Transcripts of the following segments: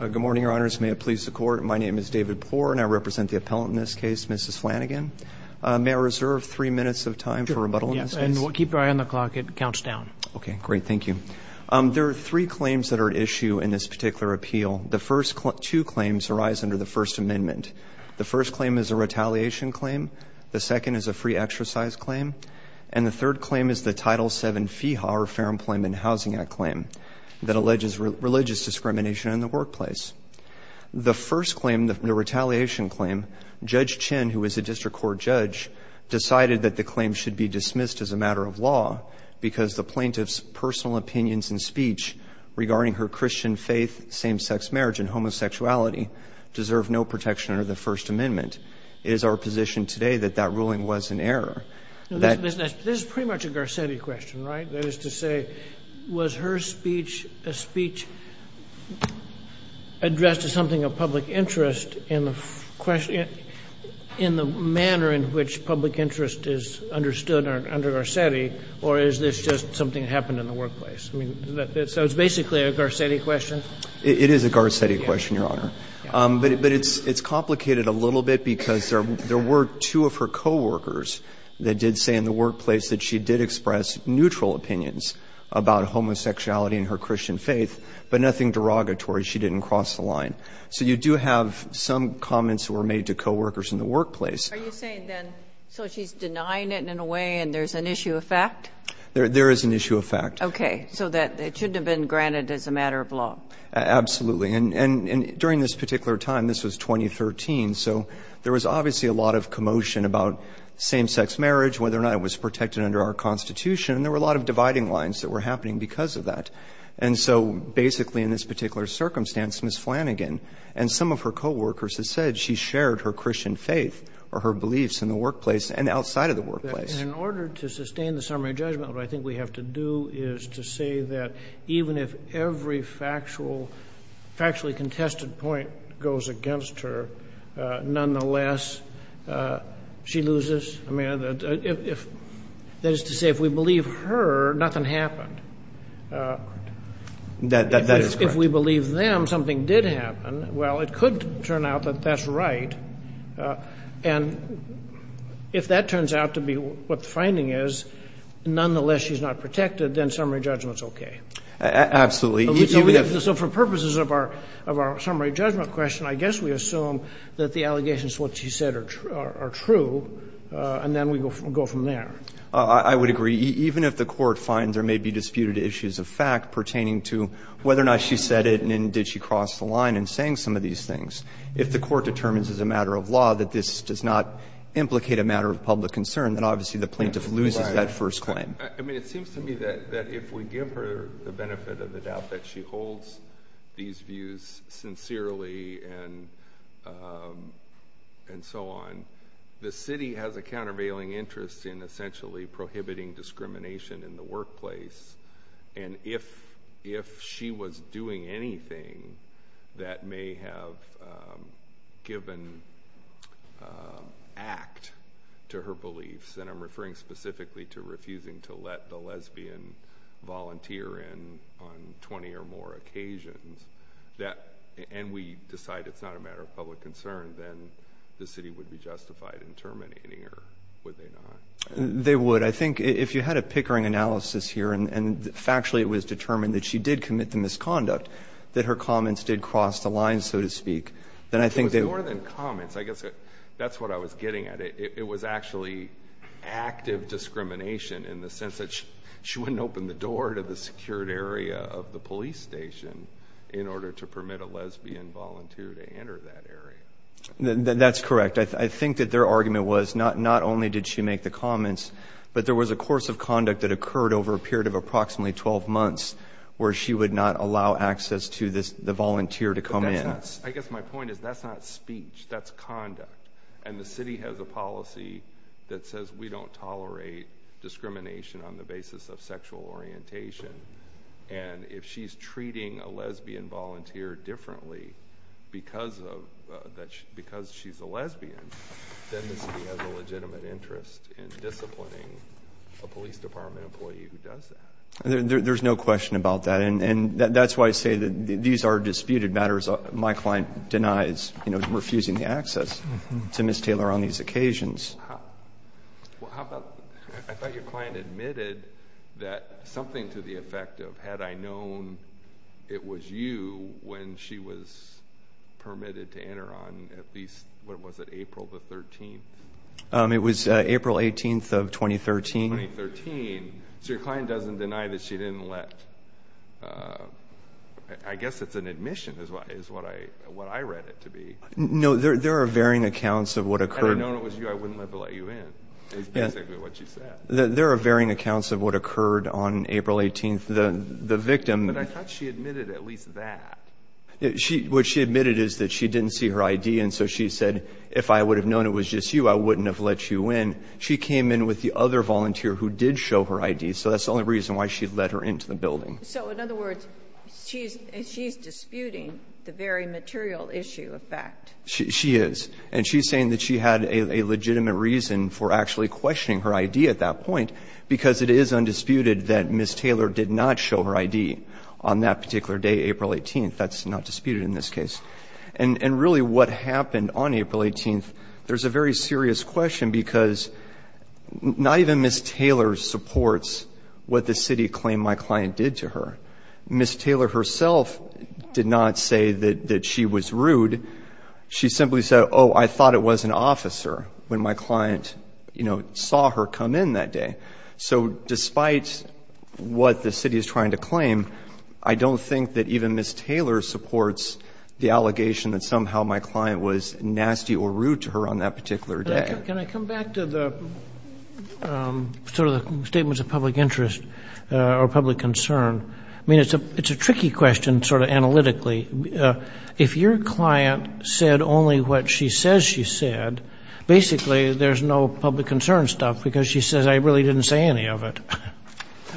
Good morning, Your Honors. May it please the Court, my name is David Poore and I represent the appellant in this case, Mrs. Flanagan. May I reserve three minutes of time for rebuttal in this case? And keep your eye on the clock, it counts down. Okay, great, thank you. There are three claims that are at issue in this particular appeal. The first two claims arise under the First Amendment. The first claim is a retaliation claim. The second is a free exercise claim. And the third claim is the Title VII FEHA, or Fair Employment and Housing Act, claim that alleges religious discrimination in the workplace. The first claim, the retaliation claim, Judge Chin, who is a district court judge, decided that the claim should be dismissed as a matter of law because the plaintiff's personal opinions and speech regarding her Christian faith, same-sex marriage, and homosexuality deserve no protection under the First Amendment. It is our position today that that ruling was an error. This is pretty much a Garcetti question, right? That is to say, was her speech a speech addressed to something of public interest in the manner in which public interest is understood under Garcetti, or is this just something that happened in the workplace? So it's basically a Garcetti question? It is a Garcetti question, Your Honor. But it's complicated a little bit because there were two of her coworkers that did say in the workplace that she did express neutral opinions about homosexuality and her Christian faith, but nothing derogatory. She didn't cross the line. So you do have some comments that were made to coworkers in the workplace. Are you saying then, so she's denying it in a way and there's an issue of fact? There is an issue of fact. Okay. So that it shouldn't have been granted as a matter of law? Absolutely. And during this particular time, this was 2013, so there was obviously a lot of commotion about same-sex marriage, whether or not it was protected under our Constitution, and there were a lot of dividing lines that were happening because of that. And so basically in this particular circumstance, Ms. Flanagan and some of her coworkers have said she shared her Christian faith or her beliefs in the workplace and outside of the workplace. In order to sustain the summary judgment, what I think we have to do is to say that even if every factually contested point goes against her, nonetheless, she loses. That is to say, if we believe her, nothing happened. That is correct. If we believe them, something did happen. Well, it could turn out that that's right. And if that turns out to be what the finding is, nonetheless she's not protected, then summary judgment's okay. Absolutely. So for purposes of our summary judgment question, I guess we assume that the allegations that she said are true, and then we go from there. I would agree. Even if the Court finds there may be disputed issues of fact pertaining to whether or not she said it and then did she cross the line in saying some of these things, if the Court determines as a matter of law that this does not implicate a matter of public concern, then obviously the plaintiff loses that first claim. I mean, it seems to me that if we give her the benefit of the doubt that she holds these views sincerely and so on, the city has a countervailing interest in essentially prohibiting discrimination in the workplace. And if she was doing anything that may have given act to her beliefs, and I'm referring specifically to refusing to let the lesbian volunteer in on 20 or more occasions, and we decide it's not a matter of public concern, then the city would be justified in terminating her, would they not? They would. I think if you had a Pickering analysis here and factually it was determined that she did commit the misconduct, that her comments did cross the line, so to speak, then I think they would. It was more than comments. I guess that's what I was getting at. It was actually active discrimination in the sense that she wouldn't open the door to the secured area of the police station in order to permit a lesbian volunteer to enter that area. That's correct. I think that their argument was not only did she make the comments, but there was a course of conduct that occurred over a period of approximately 12 months where she would not allow access to the volunteer to come in. I guess my point is that's not speech. That's conduct. The city has a policy that says we don't tolerate discrimination on the basis of sexual orientation. If she's treating a lesbian volunteer differently because she's a lesbian, then the city has a legitimate interest in disciplining a police department employee who does that. There's no question about that. That's why I say that these are disputed matters. My client denies refusing the access to Ms. Taylor on these occasions. I thought your client admitted that something to the effect of had I known it was you when she was permitted to enter on at least, what was it, April the 13th? It was April 18th of 2013. 2013. So your client doesn't deny that she didn't let, I guess it's an admission. That's what I read it to be. No, there are varying accounts of what occurred. Had I known it was you, I wouldn't have let you in is basically what she said. There are varying accounts of what occurred on April 18th. The victim. But I thought she admitted at least that. What she admitted is that she didn't see her ID, and so she said, if I would have known it was just you, I wouldn't have let you in. She came in with the other volunteer who did show her ID, so that's the only reason why she let her into the building. So in other words, she's disputing the very material issue of fact. She is. And she's saying that she had a legitimate reason for actually questioning her ID at that point, because it is undisputed that Ms. Taylor did not show her ID on that particular day, April 18th. That's not disputed in this case. And really what happened on April 18th, there's a very serious question because not even Ms. Taylor supports what the city claimed my client did to her. Ms. Taylor herself did not say that she was rude. She simply said, oh, I thought it was an officer when my client, you know, saw her come in that day. So despite what the city is trying to claim, I don't think that even Ms. Taylor supports the allegation that somehow my client was nasty or rude to her on that particular day. Can I come back to the sort of the statements of public interest or public concern? I mean, it's a tricky question sort of analytically. If your client said only what she says she said, basically there's no public concern stuff because she says I really didn't say any of it.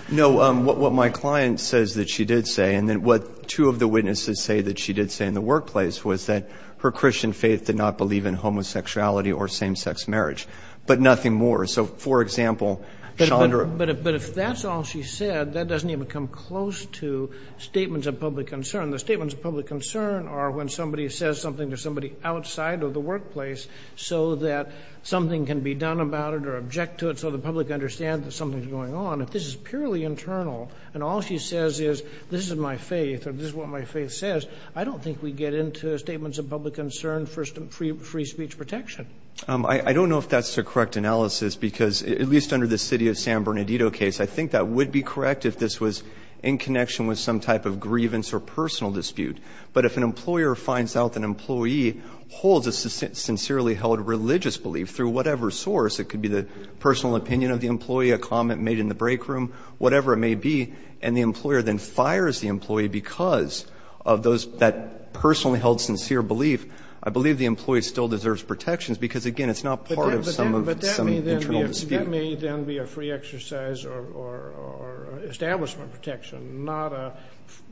No, what my client says that she did say and then what two of the witnesses say that she did say in the workplace was that her Christian faith did not believe in homosexuality or same-sex marriage, but nothing more. So, for example, Chandra. But if that's all she said, that doesn't even come close to statements of public concern. The statements of public concern are when somebody says something to somebody outside of the workplace so that something can be done about it or object to it so the public understands that something's going on. If this is purely internal and all she says is this is my faith or this is what my faith says, I don't think we get into statements of public concern for free speech protection. I don't know if that's the correct analysis because, at least under the city of San Bernardino case, I think that would be correct if this was in connection with some type of grievance or personal dispute. But if an employer finds out that an employee holds a sincerely held religious belief through whatever source, it could be the personal opinion of the employee, a comment made in the break room, whatever it may be, and the employer then fires the employee because of those, that personally held sincere belief. I believe the employee still deserves protections because, again, it's not part of some internal dispute. Kennedy. But that may then be a free exercise or establishment protection, not a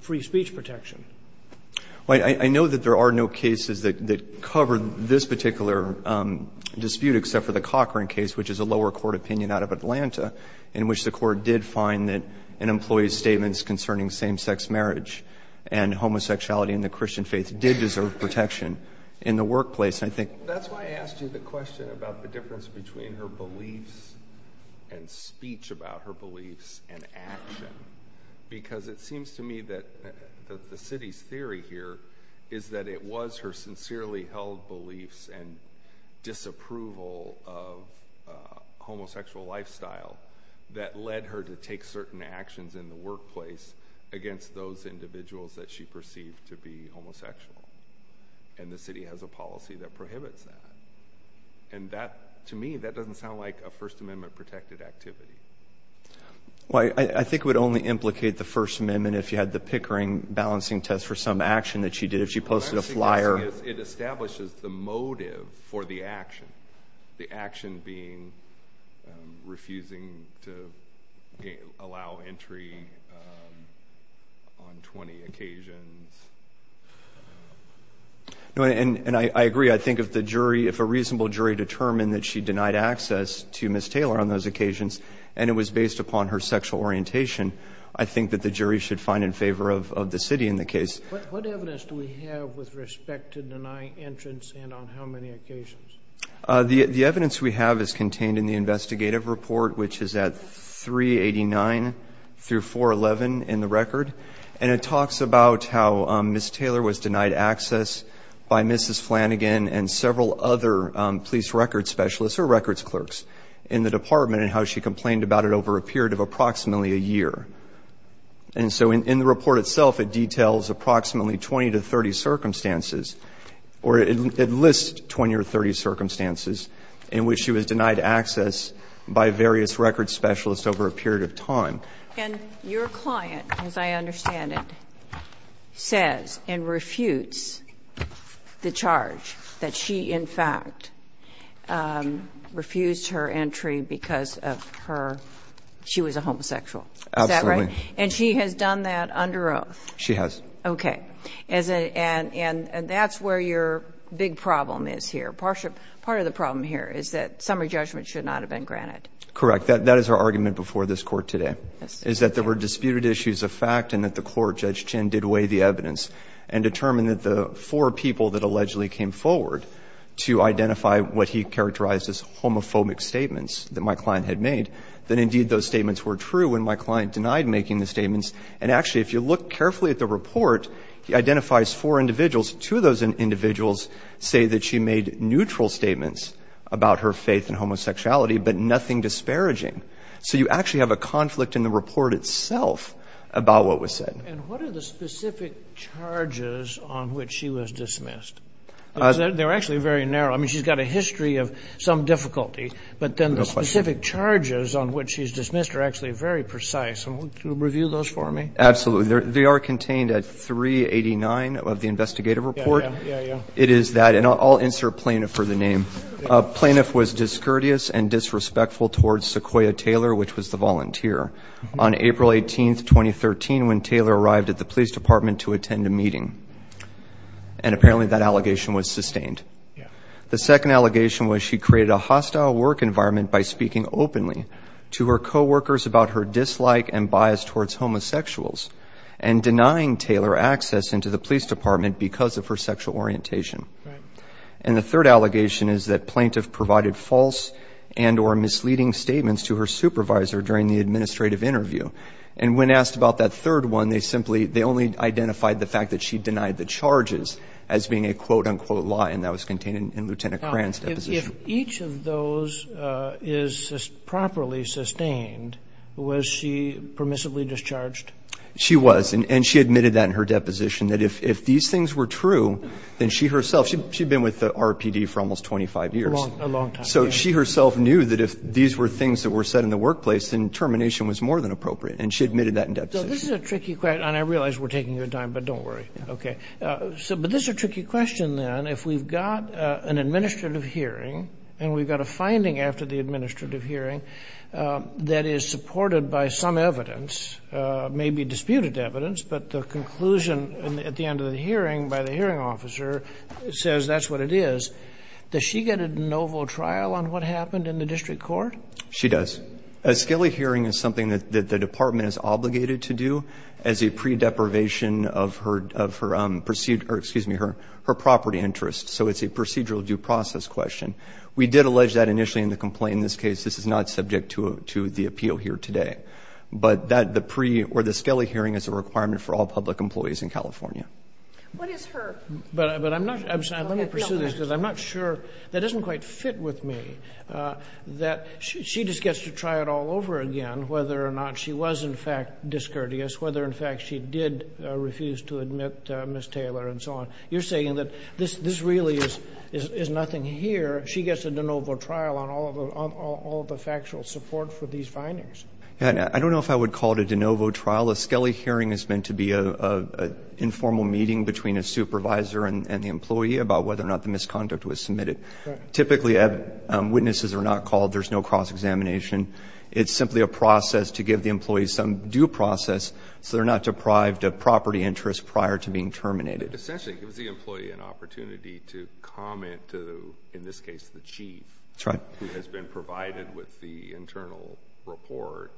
free speech protection. I know that there are no cases that cover this particular dispute except for the Cochran case, which is a lower court opinion out of Atlanta, in which the Court did find that an employee's statements concerning same-sex marriage and homosexuality in the Christian faith did deserve protection in the workplace. That's why I asked you the question about the difference between her beliefs and speech about her beliefs and action because it seems to me that the city's theory here is that it was her sincerely held beliefs and disapproval of homosexual lifestyle that led her to take certain actions in the workplace against those individuals that she perceived to be homosexual. And the city has a policy that prohibits that. And that, to me, that doesn't sound like a First Amendment-protected activity. Well, I think it would only implicate the First Amendment if you had the Pickering balancing test for some action that she did, if she posted a flyer. It establishes the motive for the action, the action being refusing to allow entry on 20 occasions. And I agree. I think if the jury, if a reasonable jury determined that she denied access to Ms. Taylor on those occasions and it was based upon her sexual orientation, I think that the jury should find in favor of the city in the case. What evidence do we have with respect to denying entrance and on how many occasions? The evidence we have is contained in the investigative report, which is at 389 through 411 in the record. And it talks about how Ms. Taylor was denied access by Mrs. Flanagan and several other police records specialists or records clerks in the department and how she complained about it over a period of approximately a year. And so in the report itself, it details approximately 20 to 30 circumstances or it lists 20 or 30 circumstances in which she was denied access by various records specialists over a period of time. And your client, as I understand it, says and refutes the charge that she, in fact, refused her entry because of her, she was a homosexual. Is that right? Absolutely. And she has done that under oath? She has. Okay. And that's where your big problem is here. Part of the problem here is that summary judgment should not have been granted. Correct. That is our argument before this Court today, is that there were disputed issues of fact and that the Court, Judge Chinn, did weigh the evidence and determined that the four people that allegedly came forward to identify what he characterized as homophobic statements that my client had made, that indeed those statements were true when my client denied making the statements. And actually, if you look carefully at the report, he identifies four individuals. Two of those individuals say that she made neutral statements about her faith in homosexuality, but nothing disparaging. So you actually have a conflict in the report itself about what was said. And what are the specific charges on which she was dismissed? They're actually very narrow. I mean, she's got a history of some difficulty, but then the specific charges on which she's dismissed are actually very precise. Can you review those for me? Absolutely. They are contained at 389 of the investigative report. Yeah, yeah. It is that, and I'll insert plaintiff for the name. Plaintiff was discourteous and disrespectful towards Sequoyah Taylor, which was the volunteer, on April 18, 2013, when Taylor arrived at the police department to attend a meeting. And apparently that allegation was sustained. The second allegation was she created a hostile work environment by speaking openly to her coworkers about her dislike and bias towards homosexuals and denying Taylor access into the police department because of her sexual orientation. And the third allegation is that plaintiff provided false and or misleading statements to her supervisor during the administrative interview. And when asked about that third one, they simply only identified the fact that she denied the charges as being a quote-unquote lie, and that was contained in Lieutenant Cran's deposition. If each of those is properly sustained, was she permissibly discharged? She was. And she admitted that in her deposition, that if these things were true, then she herself, she'd been with the RPD for almost 25 years. A long time. So she herself knew that if these were things that were said in the workplace, then termination was more than appropriate. And she admitted that in deposition. So this is a tricky question. And I realize we're taking your time, but don't worry. Okay. But this is a tricky question, then. If we've got an administrative hearing and we've got a finding after the administrative hearing that is supported by some evidence, maybe disputed evidence, but the conclusion at the end of the hearing by the hearing officer says that's what it is, does she get a de novo trial on what happened in the district court? She does. A scaly hearing is something that the department is obligated to do as a pre-deprivation of her procedure or, excuse me, her property interest. So it's a procedural due process question. We did allege that initially in the complaint. In this case, this is not subject to the appeal here today. But that the pre- or the scaly hearing is a requirement for all public employees in California. What is her? But I'm not going to pursue this because I'm not sure. That doesn't quite fit with me. That she just gets to try it all over again, whether or not she was, in fact, discourteous, whether, in fact, she did refuse to admit Ms. Taylor and so on. You're saying that this really is nothing here. She gets a de novo trial on all of the factual support for these findings. I don't know if I would call it a de novo trial. A scaly hearing is meant to be an informal meeting between a supervisor and the employee about whether or not the misconduct was submitted. Typically, witnesses are not called. There's no cross-examination. It's simply a process to give the employee some due process so they're not deprived of property interest prior to being terminated. Essentially, it gives the employee an opportunity to comment to, in this case, the chief. That's right. Who has been provided with the internal report,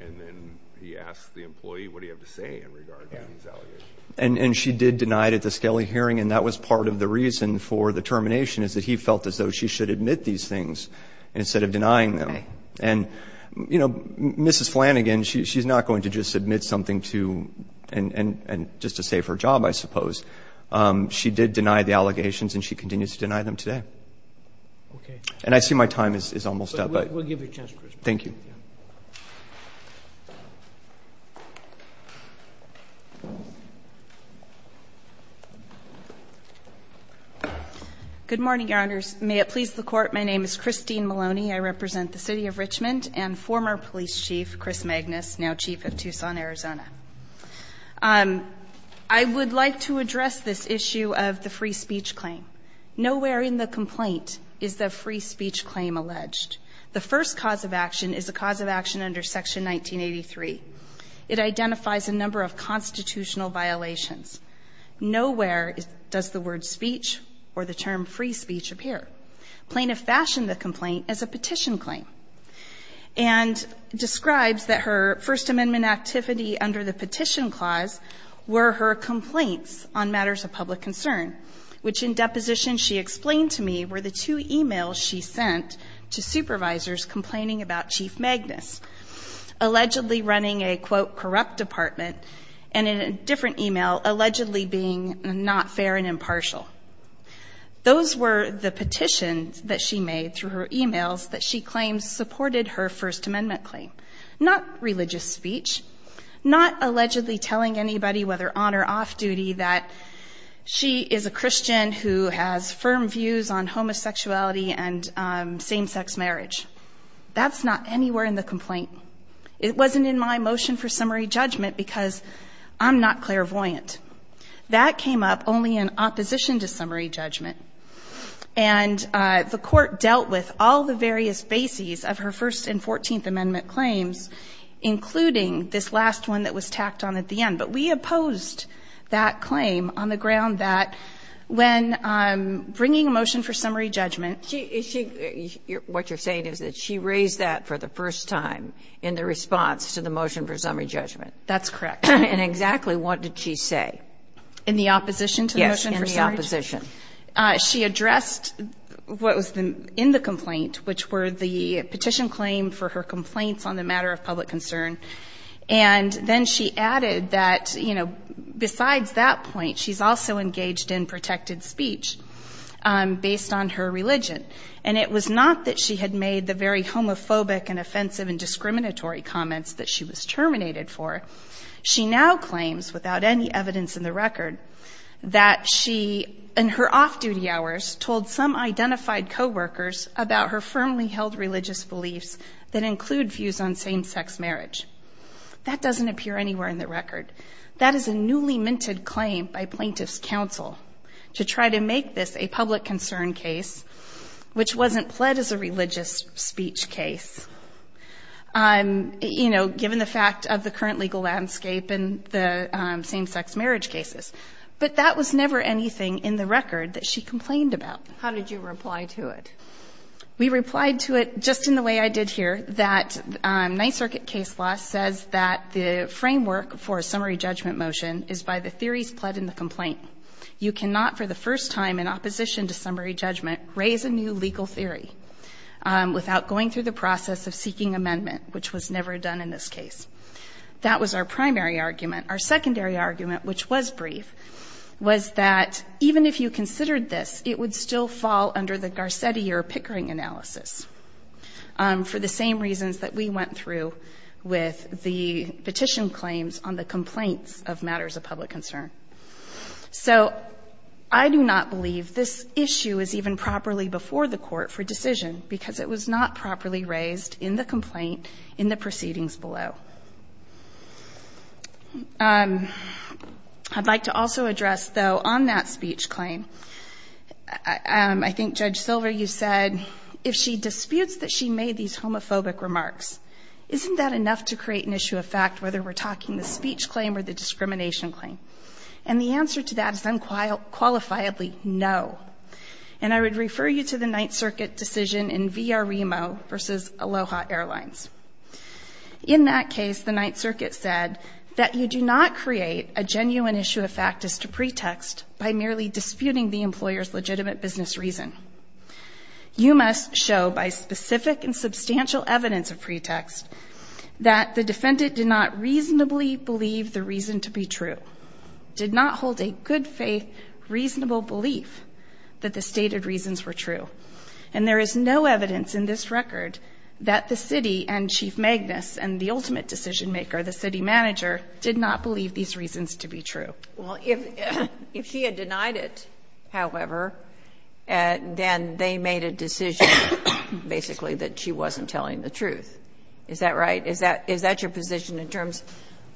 and then he asks the employee, what do you have to say in regard to these allegations? And she did deny it at the scaly hearing, and that was part of the reason for the termination is that he felt as though she should admit these things instead of denying them. Why? And, you know, Mrs. Flanagan, she's not going to just submit something to and just to save her job, I suppose. She did deny the allegations, and she continues to deny them today. Okay. And I see my time is almost up. We'll give you a chance, Chris. Thank you. Good morning, Your Honors. May it please the Court. My name is Christine Maloney. I represent the City of Richmond and former police chief, Chris Magnus, now chief of Tucson, Arizona. I would like to address this issue of the free speech claim. Nowhere in the complaint is the free speech claim alleged. The first cause of action is a cause of action under Section 1983. It identifies a number of constitutional violations. Nowhere does the word speech or the term free speech appear. Plaintiff fashioned the complaint as a petition claim and describes that her First Amendment activity under the petition clause were her complaints on matters of public concern, which in deposition she explained to me were the two e-mails she sent to supervisors complaining about Chief Magnus, allegedly running a, quote, corrupt department, and in a different e-mail allegedly being not fair and impartial. Those were the petitions that she made through her e-mails that she claimed supported her First Amendment claim, not religious speech, not allegedly telling anybody, whether on or off duty, that she is a Christian who has firm views on homosexuality and same-sex marriage. That's not anywhere in the complaint. It wasn't in my motion for summary judgment because I'm not clairvoyant. That came up only in opposition to summary judgment. And the Court dealt with all the various bases of her First and Fourteenth Amendment claims, including this last one that was tacked on at the end. But we opposed that claim on the ground that when bringing a motion for summary judgment ---- What you're saying is that she raised that for the first time in the response to the motion for summary judgment. That's correct. And exactly what did she say? In the opposition to the motion for summary judgment? Yes, in the opposition. She addressed what was in the complaint, which were the petition claim for her complaints on the matter of public concern. And then she added that, you know, besides that point, she's also engaged in protected speech based on her religion. And it was not that she had made the very homophobic and offensive and discriminatory comments that she was terminated for. She now claims, without any evidence in the record, that she in her off-duty hours told some identified coworkers about her firmly held religious beliefs that include views on same-sex marriage. That doesn't appear anywhere in the record. That is a newly minted claim by plaintiff's counsel to try to make this a public concern case, which wasn't pled as a religious speech case. You know, given the fact of the current legal landscape and the same-sex marriage cases. But that was never anything in the record that she complained about. How did you reply to it? We replied to it just in the way I did here, that Ninth Circuit case law says that the framework for a summary judgment motion is by the theories pled in the complaint. You cannot, for the first time, in opposition to summary judgment, raise a new legal theory without going through the process of seeking amendment, which was never done in this case. That was our primary argument. Our secondary argument, which was brief, was that even if you considered this, it would still fall under the Garcetti or Pickering analysis for the same reasons that we went through with the petition claims on the complaints of matters of public concern. So I do not believe this issue is even properly before the court for decision because it was not properly raised in the complaint in the proceedings below. I'd like to also address, though, on that speech claim, I think, Judge Silver, you said, if she disputes that she made these homophobic remarks, isn't that enough to create an issue of fact whether we're talking the speech claim or the discrimination claim? And the answer to that is unqualifiedly no. And I would refer you to the Ninth Circuit decision in VREMO v. Aloha Airlines. In that case, the Ninth Circuit said that you do not create a genuine issue of fact as to pretext by merely disputing the employer's legitimate business reason. You must show by specific and substantial evidence of pretext that the defendant did not reasonably believe the reason to be true, did not hold a good faith reasonable belief that the stated reasons were true. And there is no evidence in this record that the city and Chief Magnus and the ultimate decision maker, the city manager, did not believe these reasons to be true. Well, if she had denied it, however, then they made a decision basically that she wasn't telling the truth. Is that right? Is that your position in terms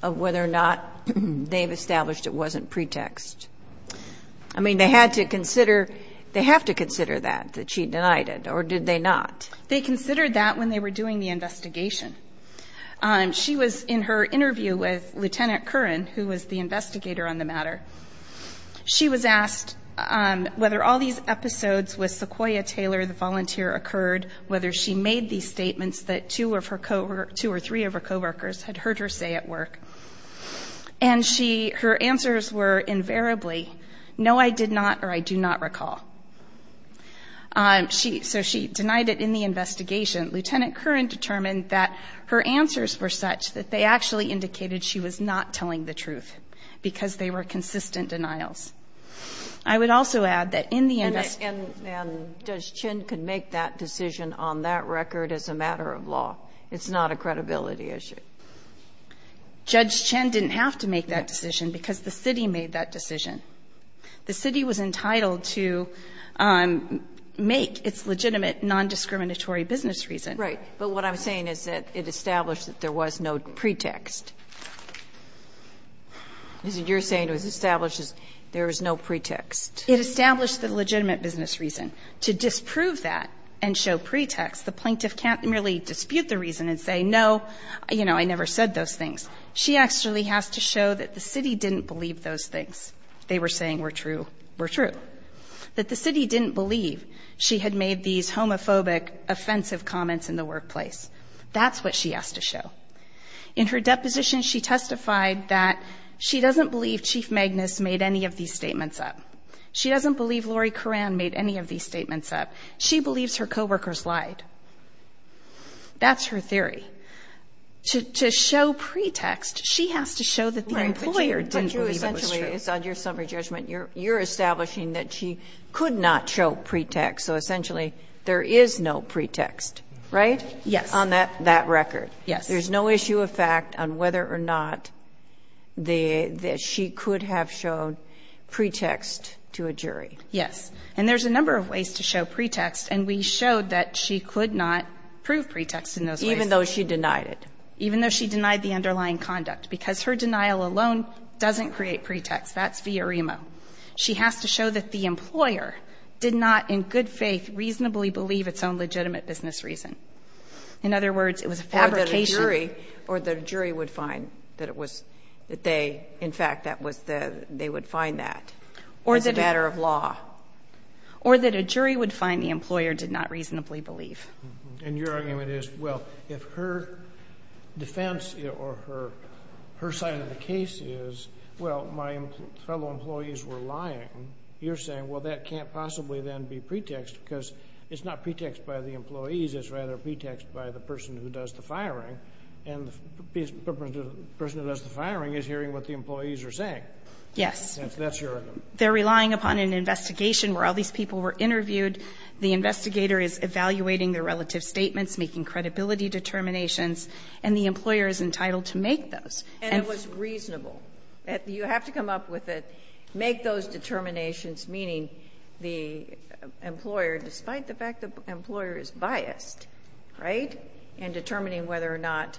of whether or not they've established it wasn't pretext? I mean, they had to consider they have to consider that, that she denied it. Or did they not? They considered that when they were doing the investigation. She was in her interview with Lieutenant Curran, who was the investigator on the matter. Whether she made these statements that two or three of her coworkers had heard her say at work. And her answers were invariably, no, I did not or I do not recall. So she denied it in the investigation. Lieutenant Curran determined that her answers were such that they actually indicated she was not telling the truth because they were consistent denials. I would also add that in the investigation. And Judge Chin could make that decision on that record as a matter of law. It's not a credibility issue. Judge Chin didn't have to make that decision because the city made that decision. The city was entitled to make its legitimate nondiscriminatory business reason. Right. But what I'm saying is that it established that there was no pretext. You're saying it was established there was no pretext. It established the legitimate business reason. To disprove that and show pretext, the plaintiff can't merely dispute the reason and say, no, you know, I never said those things. She actually has to show that the city didn't believe those things they were saying were true were true. That the city didn't believe she had made these homophobic, offensive comments in the workplace. That's what she has to show. In her deposition, she testified that she doesn't believe Chief Magnus made any of these statements up. She doesn't believe Lori Curran made any of these statements up. She believes her coworkers lied. That's her theory. To show pretext, she has to show that the employer didn't believe it was true. But you essentially, it's on your summary judgment, you're establishing that she could not show pretext. So, essentially, there is no pretext. Right? Yes. On that record. Yes. There's no issue of fact on whether or not she could have shown pretext to a jury. Yes. And there's a number of ways to show pretext, and we showed that she could not prove pretext in those ways. Even though she denied it. Even though she denied the underlying conduct. Because her denial alone doesn't create pretext. That's via remo. She has to show that the employer did not in good faith reasonably believe its own legitimate business reason. In other words, it was a fabrication. Or that a jury would find that it was, that they, in fact, that was the, they would find that as a matter of law. Or that a jury would find the employer did not reasonably believe. And your argument is, well, if her defense or her side of the case is, well, my fellow employees were lying, you're saying, well, that can't possibly then be pretext because it's not pretext by the employees. It's rather pretext by the person who does the firing. And the person who does the firing is hearing what the employees are saying. Yes. That's your argument. They're relying upon an investigation where all these people were interviewed. The investigator is evaluating their relative statements, making credibility determinations. And the employer is entitled to make those. And it was reasonable. You have to come up with it. Make those determinations, meaning the employer, despite the fact the employer is biased, right, in determining whether or not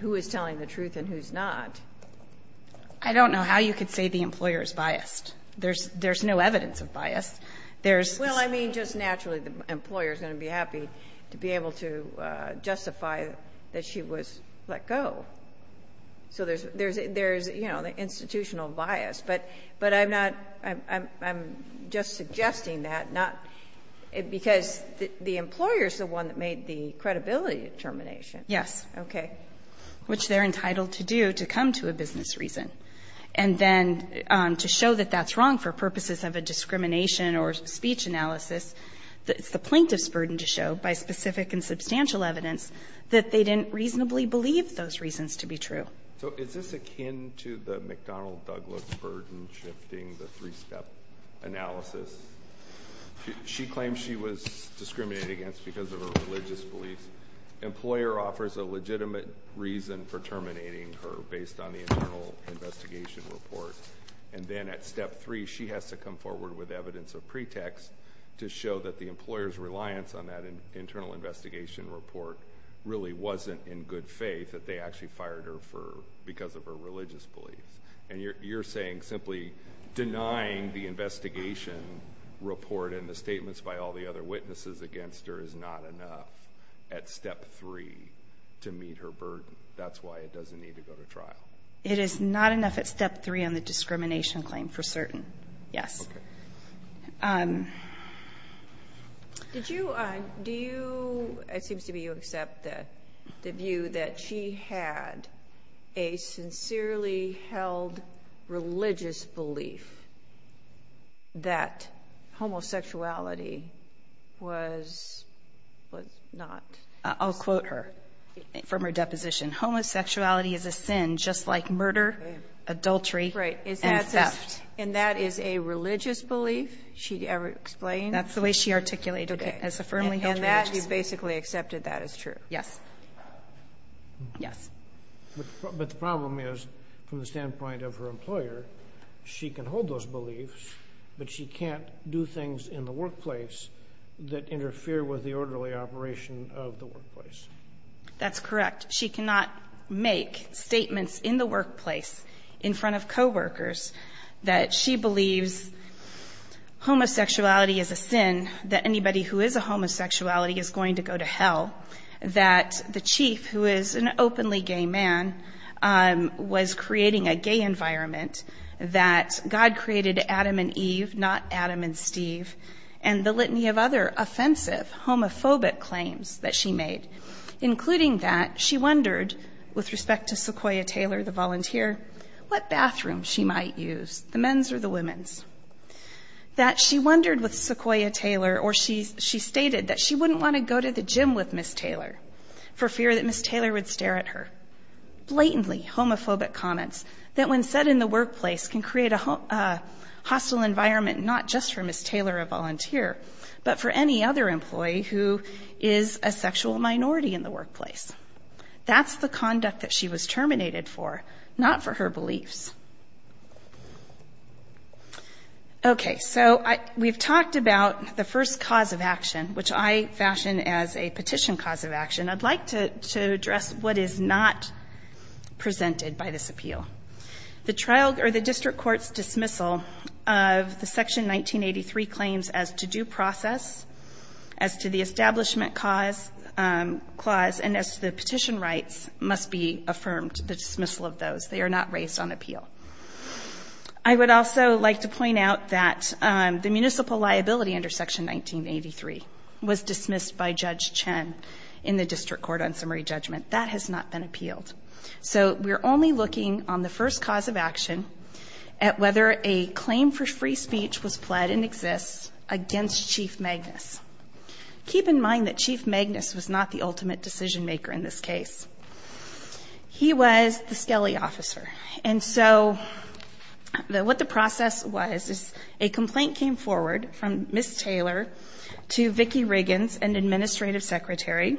who is telling the truth and who's not. I don't know how you could say the employer is biased. There's no evidence of bias. Well, I mean, just naturally, the employer is going to be happy to be able to justify that she was let go. So there's, you know, institutional bias. But I'm not – I'm just suggesting that not – because the employer is the one that made the credibility determination. Yes. Okay. Which they're entitled to do to come to a business reason. And then to show that that's wrong for purposes of a discrimination or speech analysis, it's the plaintiff's burden to show by specific and substantial evidence that they didn't reasonably believe those reasons to be true. So is this akin to the McDonnell-Douglas burden shifting the three-step analysis? She claims she was discriminated against because of her religious beliefs. The employer offers a legitimate reason for terminating her based on the internal investigation report. And then at step three, she has to come forward with evidence of pretext to show that the employer's reliance on that internal investigation report really wasn't in good faith, that they actually fired her because of her religious beliefs. And you're saying simply denying the investigation report and the statements by all the other witnesses against her is not enough at step three to meet her burden. That's why it doesn't need to go to trial. It is not enough at step three on the discrimination claim for certain. Yes. Okay. It seems to me you accept the view that she had a sincerely held religious belief that homosexuality was not. I'll quote her from her deposition. Homosexuality is a sin just like murder, adultery, and theft. And that is a religious belief? She ever explained? That's the way she articulated it. Okay. As a firmly held religious belief. And that, you basically accepted that as true? Yes. Yes. But the problem is, from the standpoint of her employer, she can hold those beliefs, but she can't do things in the workplace that interfere with the orderly operation of the workplace. That's correct. She cannot make statements in the workplace in front of coworkers that she believes homosexuality is a sin, that anybody who is a homosexuality is going to go to hell, that the chief, who is an openly gay man, was creating a gay environment, that God created Adam and Eve, not Adam and Steve, and the litany of other offensive homophobic claims that she made. Including that she wondered, with respect to Sequoia Taylor, the volunteer, what bathroom she might use, the men's or the women's. That she wondered with Sequoia Taylor, or she stated that she wouldn't want to go to the gym with Ms. Taylor for fear that Ms. Taylor would stare at her. Blatantly homophobic comments that when said in the workplace can create a hostile environment not just for Ms. Taylor, a volunteer, but for any other employee who is a sexual minority in the workplace. That's the conduct that she was terminated for, not for her beliefs. Okay, so we've talked about the first cause of action, which I fashion as a petition cause of action. I'd like to address what is not presented by this appeal. The district court's dismissal of the Section 1983 claims as to due process, as to the establishment clause, and as to the petition rights must be affirmed, the dismissal of those. They are not raised on appeal. I would also like to point out that the municipal liability under Section 1983 was dismissed by Judge Chen in the district court on summary judgment. That has not been appealed. So we're only looking on the first cause of action at whether a claim for free speech was pled and exists against Chief Magnus. Keep in mind that Chief Magnus was not the ultimate decision maker in this case. He was the skelly officer. And so what the process was is a complaint came forward from Ms. Taylor to Vicki Riggins, an administrative secretary,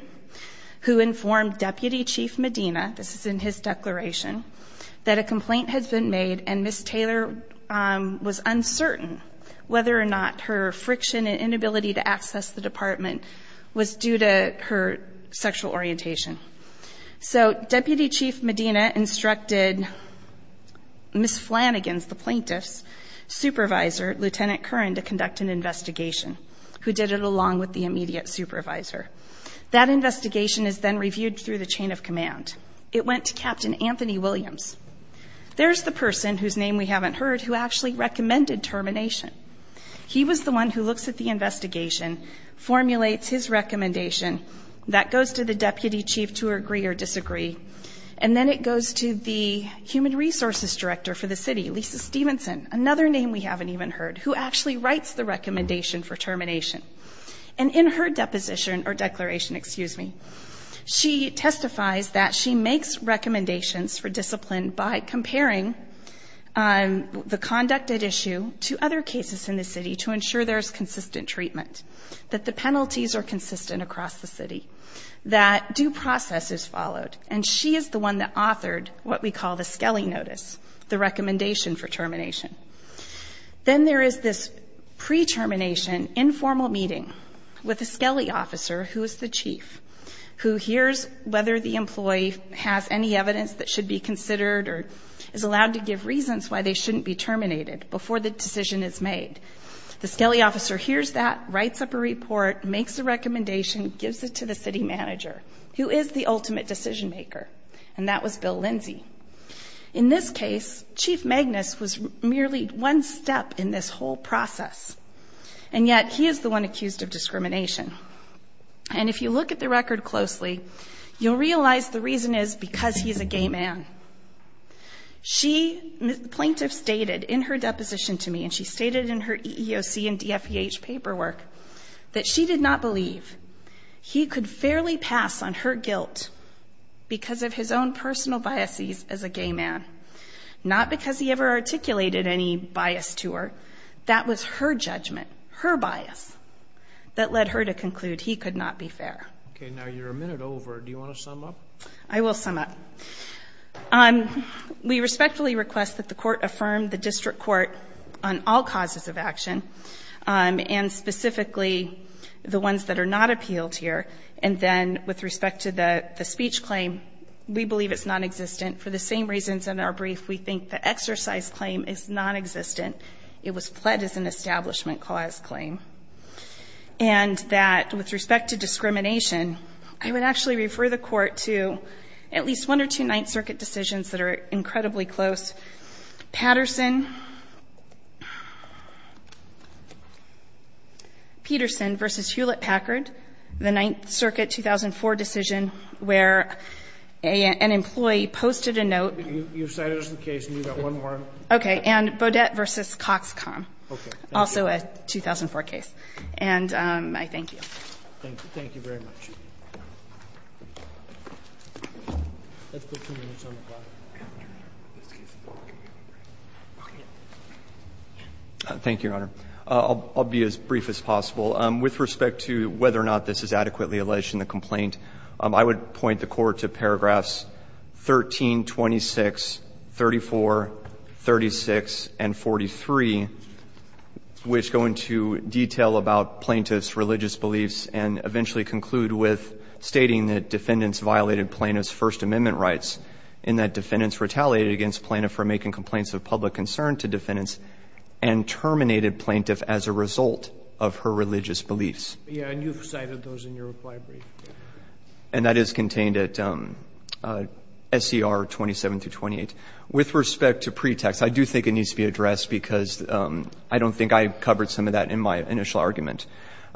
who informed Deputy Chief Medina, this is in his declaration, that a complaint had been made and Ms. Taylor was uncertain whether or not her friction and inability to access the department was due to her sexual orientation. So Deputy Chief Medina instructed Ms. Flanagan's, the plaintiff's, supervisor, Lieutenant Curran, to conduct an investigation, who did it along with the immediate supervisor. That investigation is then reviewed through the chain of command. It went to Captain Anthony Williams. There's the person, whose name we haven't heard, who actually recommended termination. He was the one who looks at the investigation, formulates his recommendation. That goes to the deputy chief to agree or disagree. And then it goes to the human resources director for the city, Lisa Stevenson, another name we haven't even heard, who actually writes the recommendation for termination. And in her deposition or declaration, excuse me, she testifies that she makes recommendations for discipline by comparing the conducted issue to other cases in the city to ensure there's consistent treatment, that the penalties are consistent across the city, that due process is followed. And she is the one that authored what we call the Skelly Notice, the recommendation for termination. Then there is this pre-termination informal meeting with a Skelly officer, who is the chief, who hears whether the employee has any evidence that should be considered or is allowed to give reasons why they shouldn't be terminated before the decision is made. The Skelly officer hears that, writes up a report, makes a recommendation, gives it to the city manager, who is the ultimate decision maker, and that was Bill Lindsey. In this case, Chief Magnus was merely one step in this whole process, and yet he is the one accused of discrimination. And if you look at the record closely, you'll realize the reason is because he's a gay man. She, the plaintiff stated in her deposition to me, and she stated in her EEOC and DFPH paperwork, that she did not believe he could fairly pass on her guilt because of his own personal biases as a gay man, not because he ever articulated any bias to her. That was her judgment, her bias, that led her to conclude he could not be fair. Okay, now you're a minute over. Do you want to sum up? I will sum up. We respectfully request that the Court affirm the district court on all causes of action and specifically the ones that are not appealed here, and then with respect to the speech claim, we believe it's nonexistent. For the same reasons in our brief, we think the exercise claim is nonexistent. It was fled as an establishment cause claim. And that with respect to discrimination, I would actually refer the Court to at least one or two Ninth Circuit decisions that are incredibly close. Patterson-Peterson v. Hewlett-Packard, the Ninth Circuit 2004 decision, where an employee posted a note. You've cited us the case, and you've got one more. Okay. And Bodette v. Coxcom, also a 2004 case. Okay. And I thank you. Thank you. Thank you very much. Thank you, Your Honor. I'll be as brief as possible. With respect to whether or not this is adequately alleged in the complaint, I would point the Court to paragraphs 13, 26, 34, 36, and 43, which go into detail about plaintiffs' religious beliefs and eventually conclude with the plaintiff's defendants violated plaintiff's First Amendment rights, and that defendants retaliated against plaintiff for making complaints of public concern to defendants and terminated plaintiff as a result of her religious beliefs. And you've cited those in your reply brief. And that is contained at SCR 27-28. With respect to pretext, I do think it needs to be addressed because I don't think I covered some of that in my initial argument.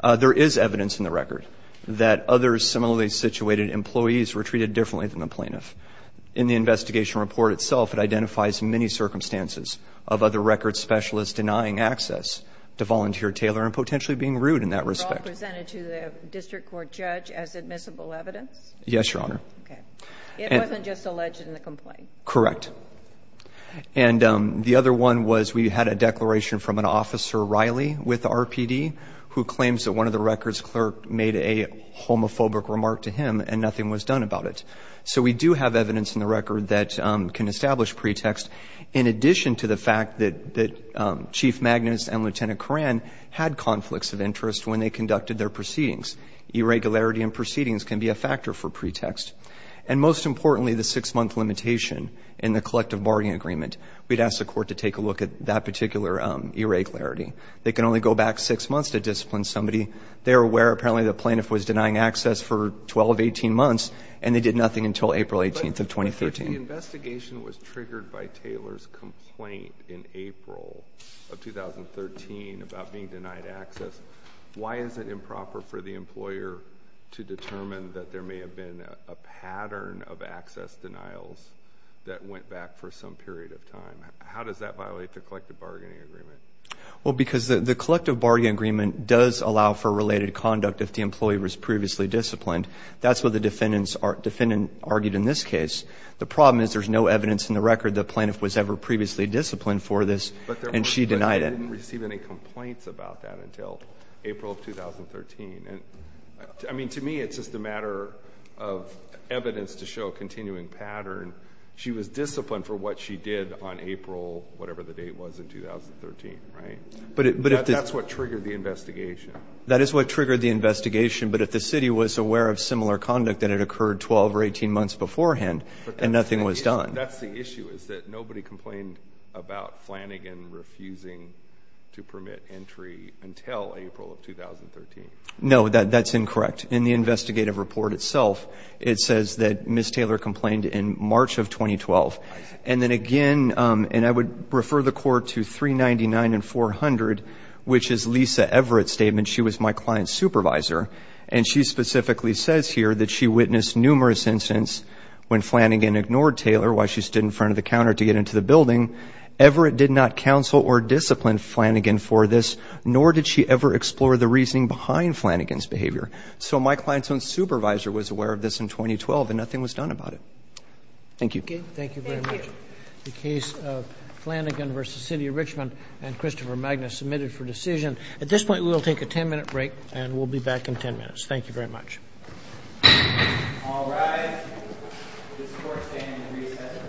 There is evidence in the record that others similarly situated employees were treated differently than the plaintiff. In the investigation report itself, it identifies many circumstances of other record specialists denying access to volunteer tailor and potentially being rude in that respect. Were all presented to the district court judge as admissible evidence? Yes, Your Honor. Okay. It wasn't just alleged in the complaint? Correct. And the other one was we had a declaration from an officer, Riley, with RPD, who claims that one of the record's clerk made a homophobic remark to him and nothing was done about it. So we do have evidence in the record that can establish pretext in addition to the fact that Chief Magnus and Lieutenant Coran had conflicts of interest when they conducted their proceedings. Irregularity in proceedings can be a factor for pretext. And most importantly, the six-month limitation in the collective bargaining agreement, we'd ask the court to take a look at that particular irregularity. They can only go back six months to discipline somebody. They're aware, apparently, the plaintiff was denying access for 12, 18 months, and they did nothing until April 18th of 2013. But if the investigation was triggered by Taylor's complaint in April of 2013 about being denied access, why is it improper for the employer to determine that there may have been a pattern of access denials that went back for some period of time? How does that violate the collective bargaining agreement? Well, because the collective bargaining agreement does allow for related conduct if the employee was previously disciplined. That's what the defendant argued in this case. The problem is there's no evidence in the record the plaintiff was ever previously disciplined for this and she denied it. But they didn't receive any complaints about that until April of 2013. I mean, to me, it's just a matter of evidence to show a continuing pattern. She was disciplined for what she did on April whatever the date was in 2013, right? That's what triggered the investigation. That is what triggered the investigation. But if the city was aware of similar conduct and it occurred 12 or 18 months beforehand and nothing was done. No, that's incorrect. In the investigative report itself, it says that Ms. Taylor complained in March of 2012. And then again, and I would refer the court to 399 and 400, which is Lisa Everett's statement, she was my client's supervisor. And she specifically says here that she witnessed numerous incidents when Flanagan ignored Taylor while she stood in front of the counter to get into the building. Everett did not counsel or discipline Flanagan for this, nor did she ever explore the reasoning behind Flanagan's behavior. So my client's own supervisor was aware of this in 2012 and nothing was done about it. Thank you. Thank you very much. The case of Flanagan v. City of Richmond and Christopher Magnus submitted for decision. At this point, we will take a ten-minute break and we'll be back in ten minutes. Thank you very much. All rise. This court stands resettled in ten minutes.